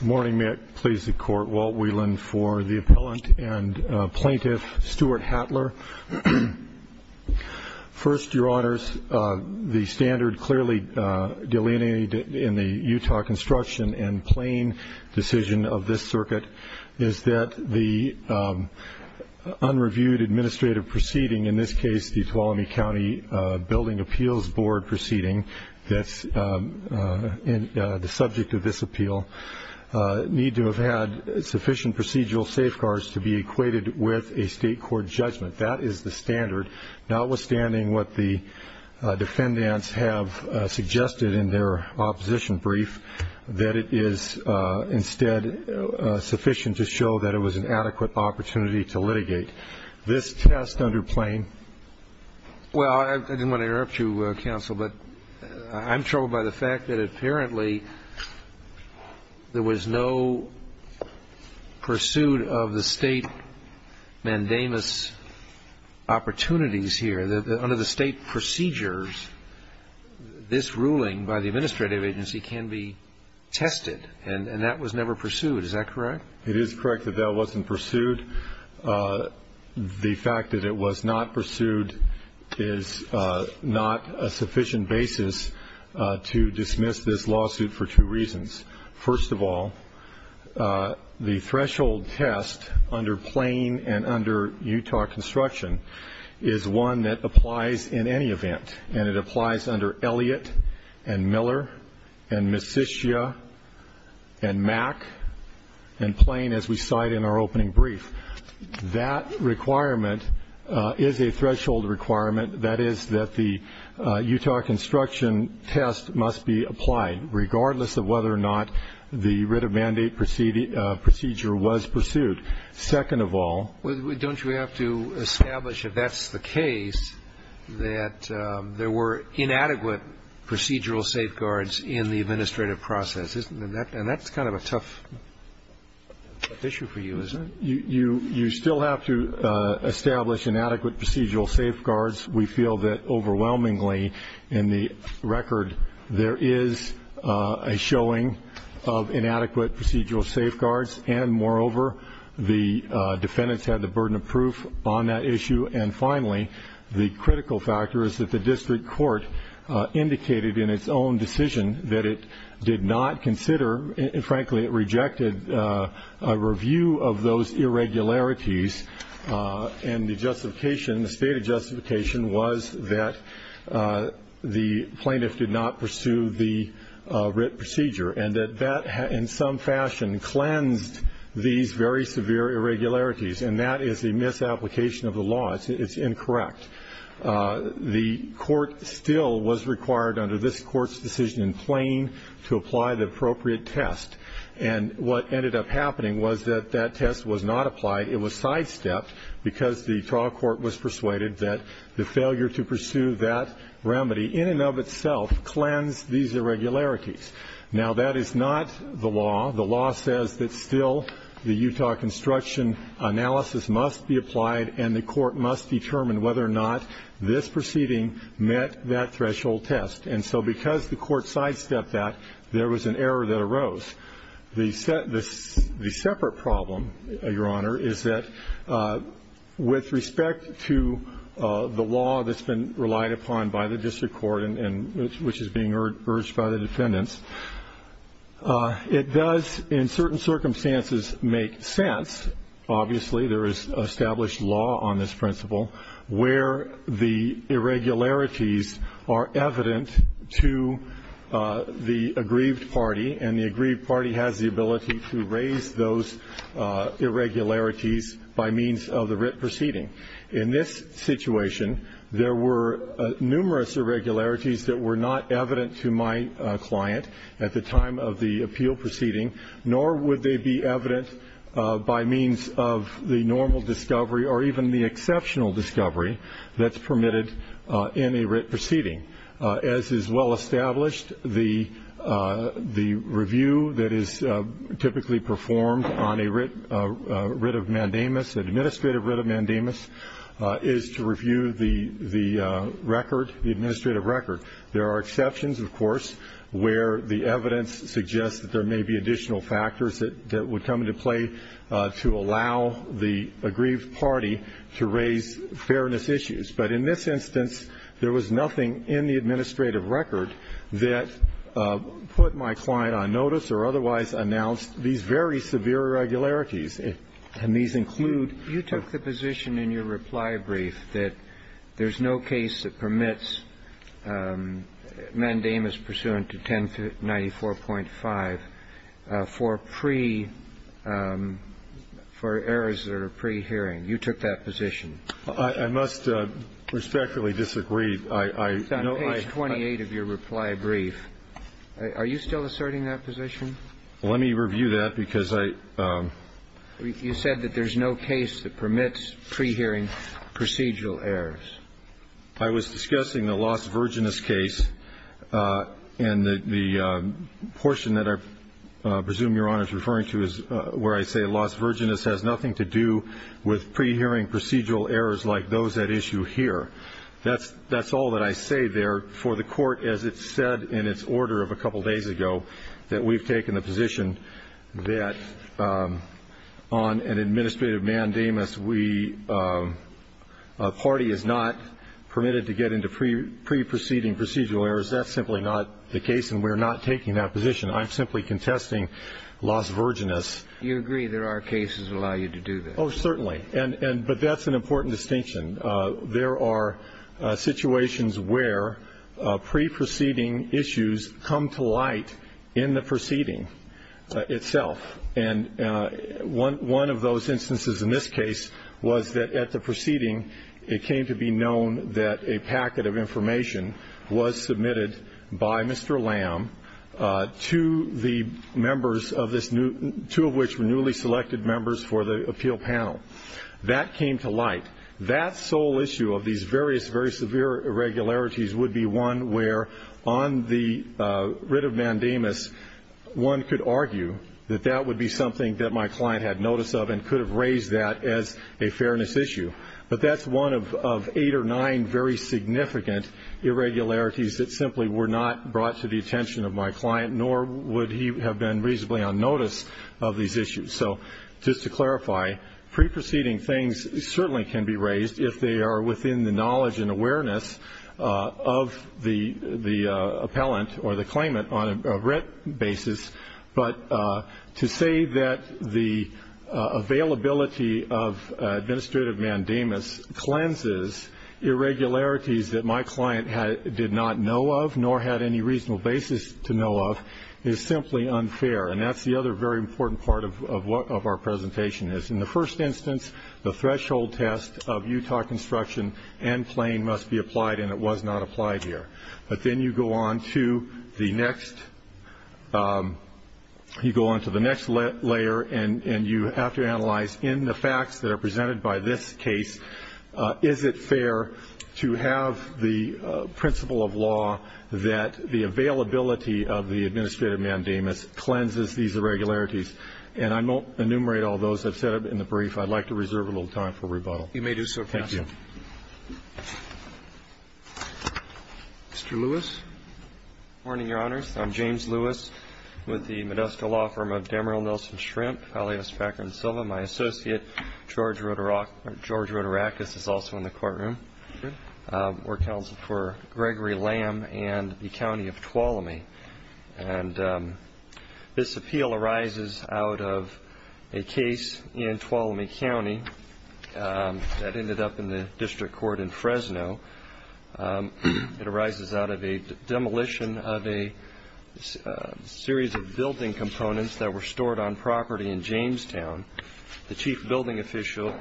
Morning, may it please the Court, Walt Whelan for the Appellant and Plaintiff Stuart Hatler. First, Your Honors, the standard clearly delineated in the Utah Construction and Plain decision of this circuit is that the unreviewed administrative proceeding, in this case the Tuolumne County Building Appeals Board proceeding that's the subject of this appeal, need to have had sufficient procedural safeguards to be equated with a state court judgment. That is the standard, notwithstanding what the defendants have suggested in their opposition brief, that it is instead sufficient to show that it was an adequate opportunity to litigate. This test under Plain? Well, I didn't want to interrupt you, Counsel, but I'm troubled by the fact that apparently there was no pursuit of the state mandamus opportunities here. Under the state procedures, this ruling by the administrative agency can be tested, and that was never pursued. Is that correct? It is correct that that wasn't pursued. The fact that it was not pursued is not a sufficient basis to dismiss this lawsuit for two reasons. First of all, the threshold test under Plain and under Utah Construction is one that applies in any event, and it applies under Elliott and Miller and Messitia and Mack and Plain, as we cite in our opening brief. That requirement is a threshold requirement. That is that the Utah Construction test must be applied, regardless of whether or not the writ of mandate procedure was pursued. Well, don't you have to establish, if that's the case, that there were inadequate procedural safeguards in the administrative process? And that's kind of a tough issue for you, isn't it? You still have to establish inadequate procedural safeguards. We feel that overwhelmingly in the record there is a showing of inadequate procedural safeguards, and, moreover, the defendants had the burden of proof on that issue. And finally, the critical factor is that the district court indicated in its own decision that it did not consider and, frankly, it rejected a review of those irregularities, and the justification, the stated justification was that the plaintiff did not pursue the writ procedure and that that in some fashion cleansed these very severe irregularities, and that is a misapplication of the law. It's incorrect. The court still was required under this court's decision in Plain to apply the appropriate test, and what ended up happening was that that test was not applied. It was sidestepped because the trial court was persuaded that the failure to pursue that remedy in and of itself cleansed these irregularities. Now, that is not the law. The law says that still the Utah construction analysis must be applied and the court must determine whether or not this proceeding met that threshold test. And so because the court sidestepped that, there was an error that arose. The separate problem, Your Honor, is that with respect to the law that's been relied upon by the district court and which is being urged by the defendants, it does in certain circumstances make sense. Obviously, there is established law on this principle where the irregularities are evident to the aggrieved party, and the aggrieved party has the ability to raise those irregularities by means of the writ proceeding. In this situation, there were numerous irregularities that were not evident to my client at the time of the appeal proceeding, nor would they be evident by means of the normal discovery or even the exceptional discovery that's permitted in a writ proceeding. As is well established, the review that is typically performed on a writ of mandamus, an administrative writ of mandamus, is to review the record, the administrative record. There are exceptions, of course, where the evidence suggests that there may be additional factors that would come into play to allow the aggrieved party to raise fairness issues. But in this instance, there was nothing in the administrative record that put my client on notice or otherwise announced these very severe irregularities. And these include the position in your reply brief that there's no case that permits mandamus pursuant to 1094.5 for pre – for errors that are pre-hearing. You took that position. I must respectfully disagree. It's on page 28 of your reply brief. Are you still asserting that position? Let me review that, because I – You said that there's no case that permits pre-hearing procedural errors. I was discussing the Las Virginas case, and the portion that I presume Your Honor is referring to is where I say Las Virginas has nothing to do with pre-hearing procedural errors like those at issue here. That's all that I say there. For the Court, as it said in its order of a couple days ago, that we've taken the position that on an administrative mandamus, we – a party is not permitted to get into pre-proceeding procedural errors. That's simply not the case, and we're not taking that position. I'm simply contesting Las Virginas. You agree there are cases that allow you to do that. Oh, certainly. And – but that's an important distinction. There are situations where pre-proceeding issues come to light in the proceeding itself. And one of those instances in this case was that at the proceeding, it came to be known that a packet of information was submitted by Mr. Lamb to the members of this – two of which were newly selected members for the appeal panel. That came to light. That sole issue of these various, very severe irregularities would be one where on the writ of mandamus, one could argue that that would be something that my client had notice of and could have raised that as a fairness issue. But that's one of eight or nine very significant irregularities that simply were not brought to the attention of my client, nor would he have been reasonably on notice of these issues. So just to clarify, pre-proceeding things certainly can be raised if they are within the knowledge and awareness of the appellant or the claimant on a writ basis. But to say that the availability of administrative mandamus cleanses irregularities that my client did not know of nor had any reasonable basis to know of is simply unfair. And that's the other very important part of what our presentation is. In the first instance, the threshold test of Utah construction and plain must be applied, and it was not applied here. But then you go on to the next – you go on to the next layer, and you have to analyze in the facts that are presented by this case, is it fair to have the principle of law that the availability of the administrative mandamus cleanses these irregularities? And I won't enumerate all those. I've said it in the brief. I'd like to reserve a little time for rebuttal. Roberts. You may do so, Your Honor. Thank you. Mr. Lewis. Good morning, Your Honors. I'm James Lewis with the Modesto Law Firm of Dameril Nelson Shrimp, alias Fakron Silva. My associate, George Roderakis, is also in the courtroom. We're counseled for Gregory Lamb and the county of Tuolumne. And this appeal arises out of a case in Tuolumne County that ended up in the district court in Fresno. It arises out of a demolition of a series of building components that were stored on property in Jamestown. The chief building official,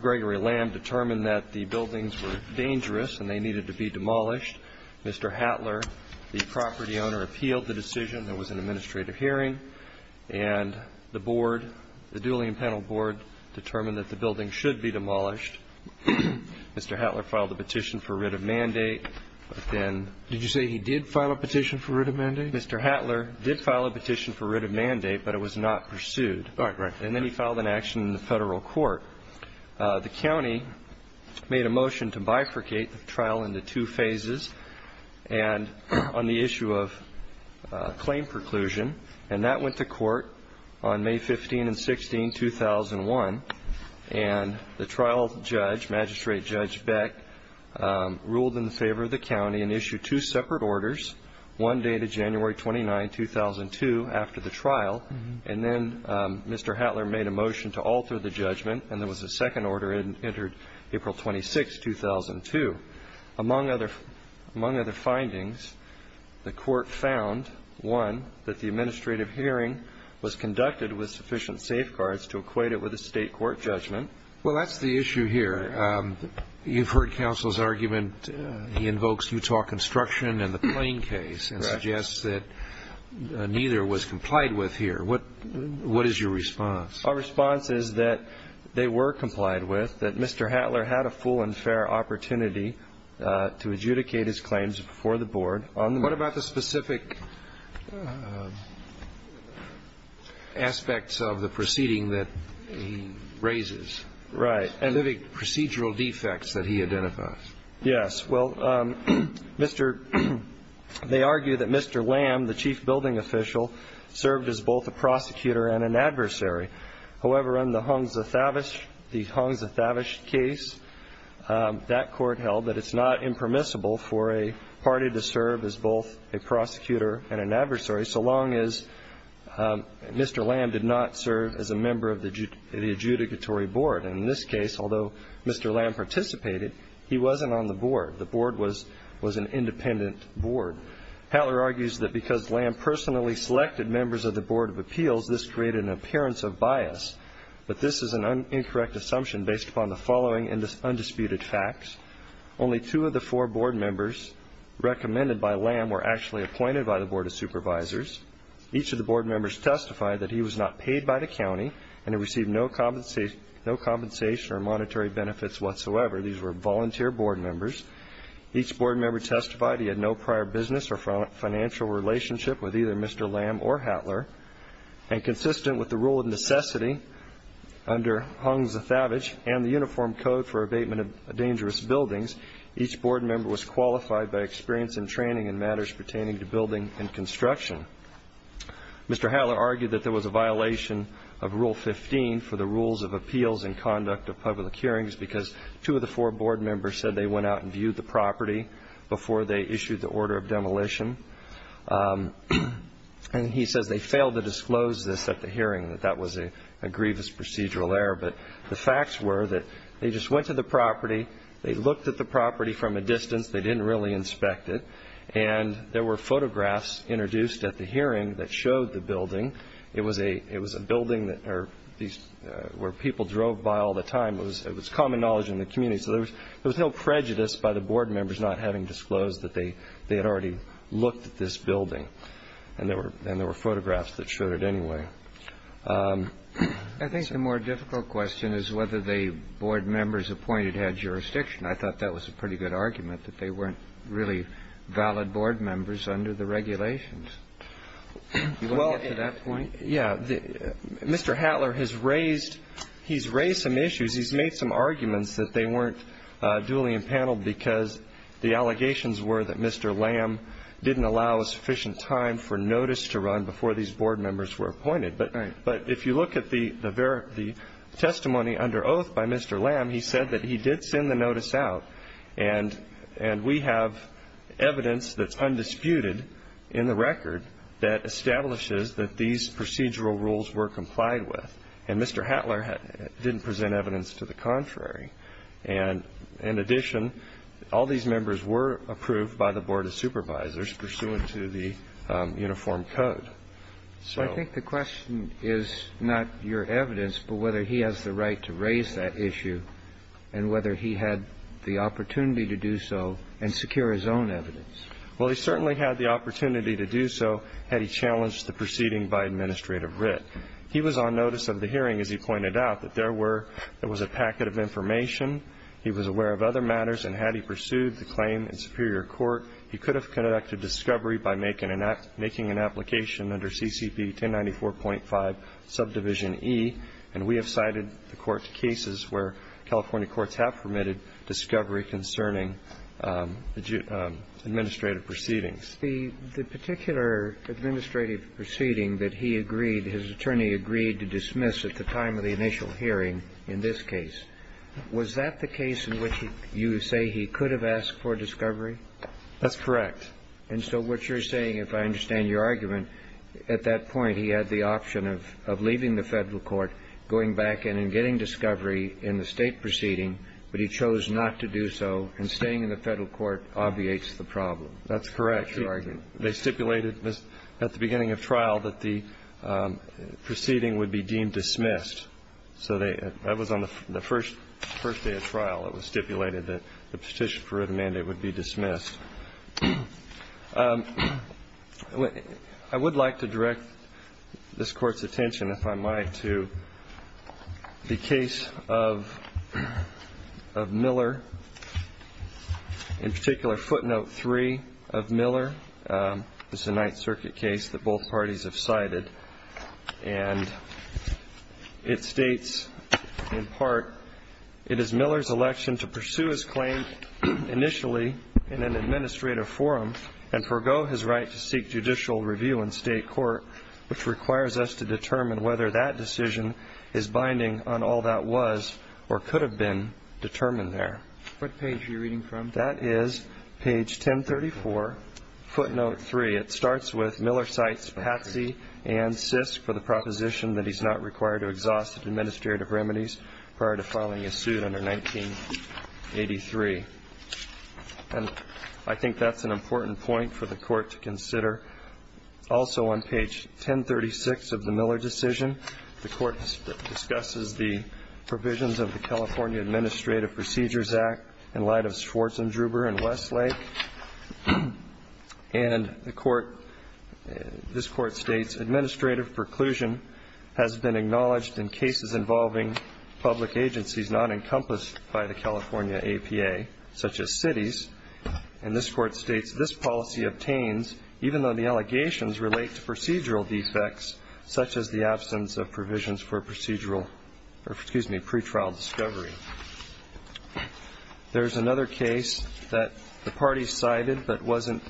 Gregory Lamb, determined that the buildings were dangerous and they needed to be demolished. Mr. Hattler, the property owner, appealed the decision. There was an administrative hearing, and the board, the Duly and Pennell board, determined that the building should be demolished. Mr. Hattler filed a petition for writ of mandate, but then ---- Did you say he did file a petition for writ of mandate? Mr. Hattler did file a petition for writ of mandate, but it was not pursued. All right. And then he filed an action in the federal court. The county made a motion to bifurcate the trial into two phases, and on the issue of claim preclusion. And that went to court on May 15 and 16, 2001. And the trial judge, Magistrate Judge Beck, ruled in favor of the county and issued two separate orders, one dated January 29, 2002, after the trial. And then Mr. Hattler made a motion to alter the judgment, and there was a second order entered April 26, 2002. Among other findings, the court found, one, that the administrative hearing was conducted with sufficient safeguards to equate it with a state court judgment. Well, that's the issue here. You've heard counsel's argument. He invokes Utah construction and the plane case and suggests that neither was complied with here. What is your response? Our response is that they were complied with, that Mr. Hattler had a full and fair opportunity to adjudicate his claims before the board. What about the specific aspects of the proceeding that he raises? Right. And the procedural defects that he identifies? Yes. Well, Mr. — they argue that Mr. Lamb, the chief building official, served as both a prosecutor and an adversary. However, in the Hongza Thavish case, that court held that it's not impermissible for a party to serve as both a prosecutor and an adversary so long as Mr. Lamb did not serve as a member of the adjudicatory board. And in this case, although Mr. Lamb participated, he wasn't on the board. The board was an independent board. Hattler argues that because Lamb personally selected members of the board of appeals, this created an appearance of bias. But this is an incorrect assumption based upon the following undisputed facts. Only two of the four board members recommended by Lamb were actually appointed by the board of supervisors. Each of the board members testified that he was not paid by the county and had received no compensation or monetary benefits whatsoever. These were volunteer board members. Each board member testified he had no prior business or financial relationship with either Mr. Lamb or Hattler. And consistent with the rule of necessity under Hongza Thavish and the Uniform Code for Abatement of Dangerous Buildings, each board member was qualified by experience and training in matters pertaining to building and construction. Mr. Hattler argued that there was a violation of Rule 15 for the rules of appeals and conduct of public hearings because two of the four board members said they went out and viewed the property before they issued the order of demolition. And he says they failed to disclose this at the hearing, that that was a grievous procedural error. But the facts were that they just went to the property. They looked at the property from a distance. They didn't really inspect it. And there were photographs introduced at the hearing that showed the building. It was a building where people drove by all the time. It was common knowledge in the community. So there was no prejudice by the board members not having disclosed that they had already looked at this building. And there were photographs that showed it anyway. I think the more difficult question is whether the board members appointed had jurisdiction. I thought that was a pretty good argument, that they weren't really valid board members under the regulations. You want to get to that point? Yeah. Mr. Hattler has raised some issues. He's made some arguments that they weren't duly impaneled because the allegations were that Mr. Lamb didn't allow sufficient time for notice to run before these board members were appointed. But if you look at the testimony under oath by Mr. Lamb, he said that he did send the notice out. And we have evidence that's undisputed in the record that establishes that these procedural rules were complied with. And Mr. Hattler didn't present evidence to the contrary. And in addition, all these members were approved by the board of supervisors pursuant to the uniform code. So I think the question is not your evidence, but whether he has the right to raise that issue and whether he had the opportunity to do so and secure his own evidence. Well, he certainly had the opportunity to do so had he challenged the proceeding by Administrative Writ. He was on notice of the hearing, as he pointed out, that there were – there was a packet of information. He was aware of other matters. And had he pursued the claim in superior court, he could have conducted discovery by making an application under CCP 1094.5 subdivision E. And we have cited the court cases where California courts have permitted discovery concerning administrative proceedings. It's the particular administrative proceeding that he agreed – his attorney agreed to dismiss at the time of the initial hearing in this case. Was that the case in which you say he could have asked for discovery? That's correct. And so what you're saying, if I understand your argument, at that point he had the option of leaving the Federal court, going back in and getting discovery in the State proceeding, but he chose not to do so, and staying in the Federal court obviates the problem. That's correct. They stipulated at the beginning of trial that the proceeding would be deemed dismissed. So that was on the first day of trial. It was stipulated that the petition for written mandate would be dismissed. I would like to direct this Court's attention, if I might, to the case of Miller, in particular footnote 3 of Miller. This is a Ninth Circuit case that both parties have cited. And it states, in part, it is Miller's election to pursue his claim initially in an administrative forum and forego his right to seek judicial review in State court, which requires us to determine whether that decision is binding on all that was or could have been determined there. What page are you reading from? That is page 1034, footnote 3. It starts with Miller cites Patsy and Sisk for the proposition that he's not required to exhaust administrative remedies prior to filing a suit under 1983. And I think that's an important point for the Court to consider. Also on page 1036 of the Miller decision, the Court discusses the provisions of the California Administrative Procedures Act in light of Schwartz and Druber and Westlake. And the Court, this Court states, administrative preclusion has been acknowledged in cases involving public agencies not encompassed by the California APA, such as cities. And this Court states, this policy obtains even though the allegations relate to procedural defects, such as the absence of provisions for procedural, or excuse me, pretrial discovery. There's another case that the party cited, but wasn't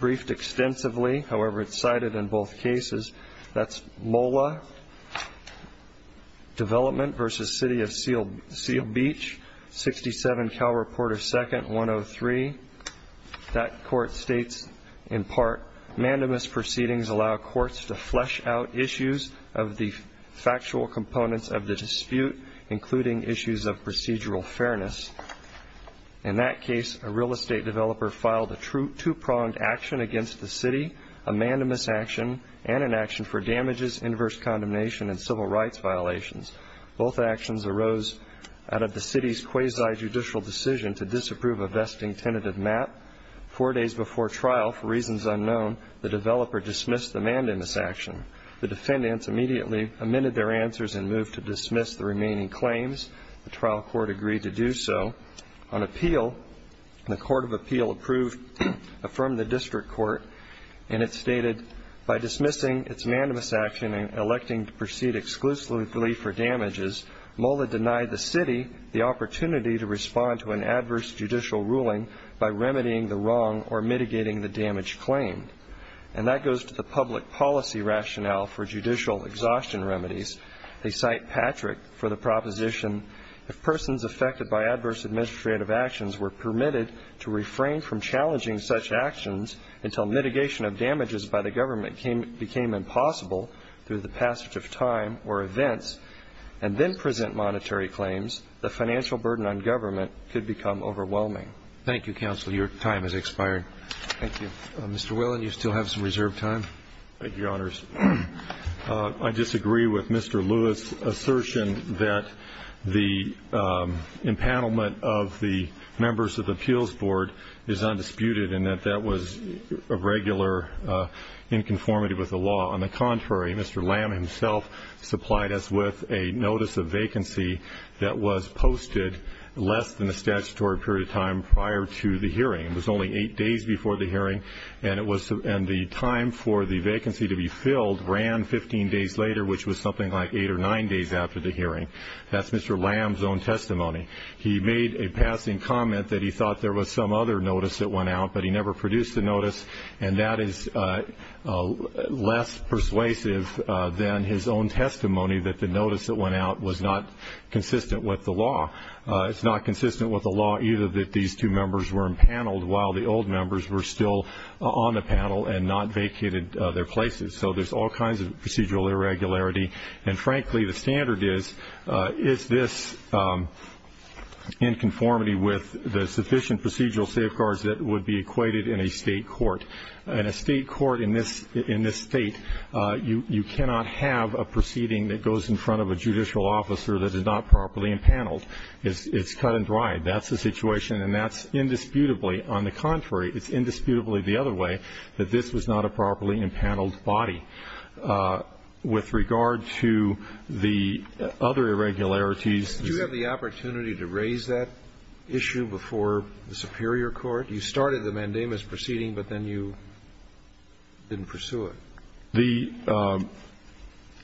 briefed extensively. However, it's cited in both cases. That's MOLA, development versus city of Seal Beach, 67 Cal Reporter 2nd, 103. That Court states, in part, mandamus proceedings allow courts to flesh out issues of the factual components of the dispute, including issues of procedural fairness. In that case, a real estate developer filed a two-pronged action against the city, a mandamus action, and an action for damages, inverse condemnation, and civil rights violations. Both actions arose out of the city's quasi-judicial decision to disapprove a vesting tentative map. Four days before trial, for reasons unknown, the developer dismissed the mandamus action. The defendants immediately amended their answers and moved to dismiss the remaining claims. The trial court agreed to do so. On appeal, the Court of Appeal approved, affirmed the district court, and it stated, by dismissing its mandamus action and electing to proceed exclusively for damages, MOLA denied the city the opportunity to respond to an adverse judicial ruling by remedying the wrong or mitigating the damage claimed. And that goes to the public policy rationale for judicial exhaustion remedies. They cite Patrick for the proposition, if persons affected by adverse administrative actions were permitted to refrain from challenging such actions until mitigation of damages by the government became impossible through the passage of time or events, and then present monetary claims, the financial burden on government could become overwhelming. Thank you, counsel. Your time has expired. Thank you. Mr. Whelan, you still have some reserved time. Thank you, Your Honors. I disagree with Mr. Lewis' assertion that the empanelment of the members of the appeals board is undisputed and that that was a regular inconformity with the law. On the contrary, Mr. Lamb himself supplied us with a notice of vacancy that was posted It was only eight days before the hearing, and the time for the vacancy to be filled ran 15 days later, which was something like eight or nine days after the hearing. That's Mr. Lamb's own testimony. He made a passing comment that he thought there was some other notice that went out, but he never produced a notice, and that is less persuasive than his own testimony that the notice that went out was not consistent with the law. It's not consistent with the law either that these two members were empaneled while the old members were still on the panel and not vacated their places. So there's all kinds of procedural irregularity, and, frankly, the standard is, is this in conformity with the sufficient procedural safeguards that would be equated in a state court? In a state court in this state, you cannot have a proceeding that goes in front of a judicial officer that is not properly empaneled. It's cut and dried. That's the situation, and that's indisputably. On the contrary, it's indisputably the other way, that this was not a properly empaneled body. With regard to the other irregularities. Did you have the opportunity to raise that issue before the superior court? You started the mandamus proceeding, but then you didn't pursue it. The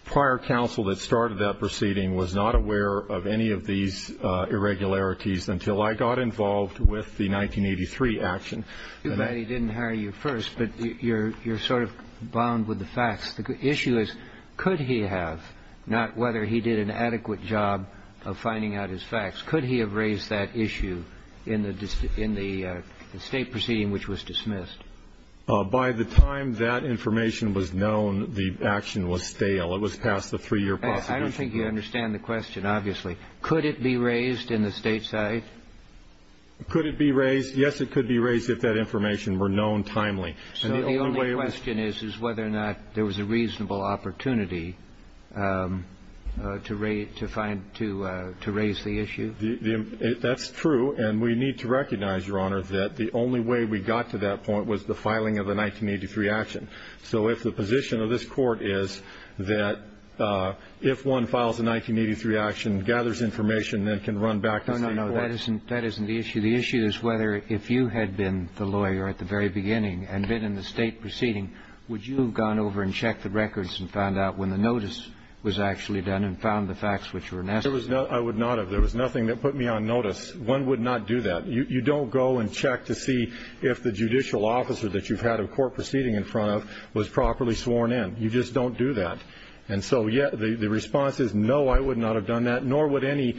prior counsel that started that proceeding was not aware of any of these irregularities until I got involved with the 1983 action. You're glad he didn't hire you first, but you're sort of bound with the facts. The issue is, could he have, not whether he did an adequate job of finding out his facts, could he have raised that issue in the state proceeding which was dismissed? By the time that information was known, the action was stale. It was past the three-year prosecution period. I don't think you understand the question, obviously. Could it be raised in the state side? Could it be raised? Yes, it could be raised if that information were known timely. So the only question is, is whether or not there was a reasonable opportunity to raise the issue? That's true, and we need to recognize, Your Honor, that the only way we got to that point was the filing of a 1983 action. So if the position of this Court is that if one files a 1983 action, gathers information, then can run back to state court. No, no, that isn't the issue. The issue is whether if you had been the lawyer at the very beginning and been in the state proceeding, would you have gone over and checked the records and found out when the notice was actually done and found the facts which were necessary? No, I would not have. There was nothing that put me on notice. One would not do that. You don't go and check to see if the judicial officer that you've had a court proceeding in front of was properly sworn in. You just don't do that. And so the response is, no, I would not have done that, nor would any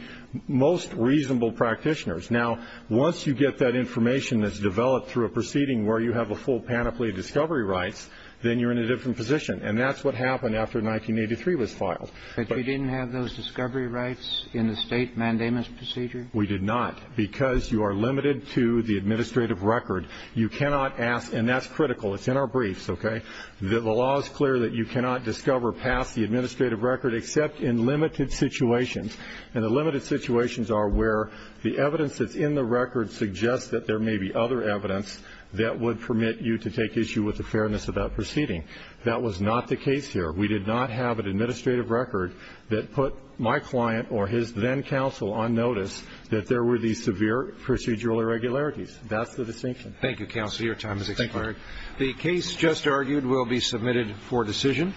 most reasonable practitioners. Now, once you get that information that's developed through a proceeding where you have a full panoply of discovery rights, then you're in a different position. And that's what happened after 1983 was filed. But you didn't have those discovery rights in the state mandamus procedure? We did not, because you are limited to the administrative record. You cannot ask, and that's critical. It's in our briefs, okay? The law is clear that you cannot discover past the administrative record except in limited situations. And the limited situations are where the evidence that's in the record suggests that there may be other evidence that would permit you to take issue with the fairness of that proceeding. That was not the case here. We did not have an administrative record that put my client or his then counsel on notice that there were these severe procedural irregularities. That's the distinction. Thank you, counsel. Your time has expired. Thank you. The case just argued will be submitted for decision.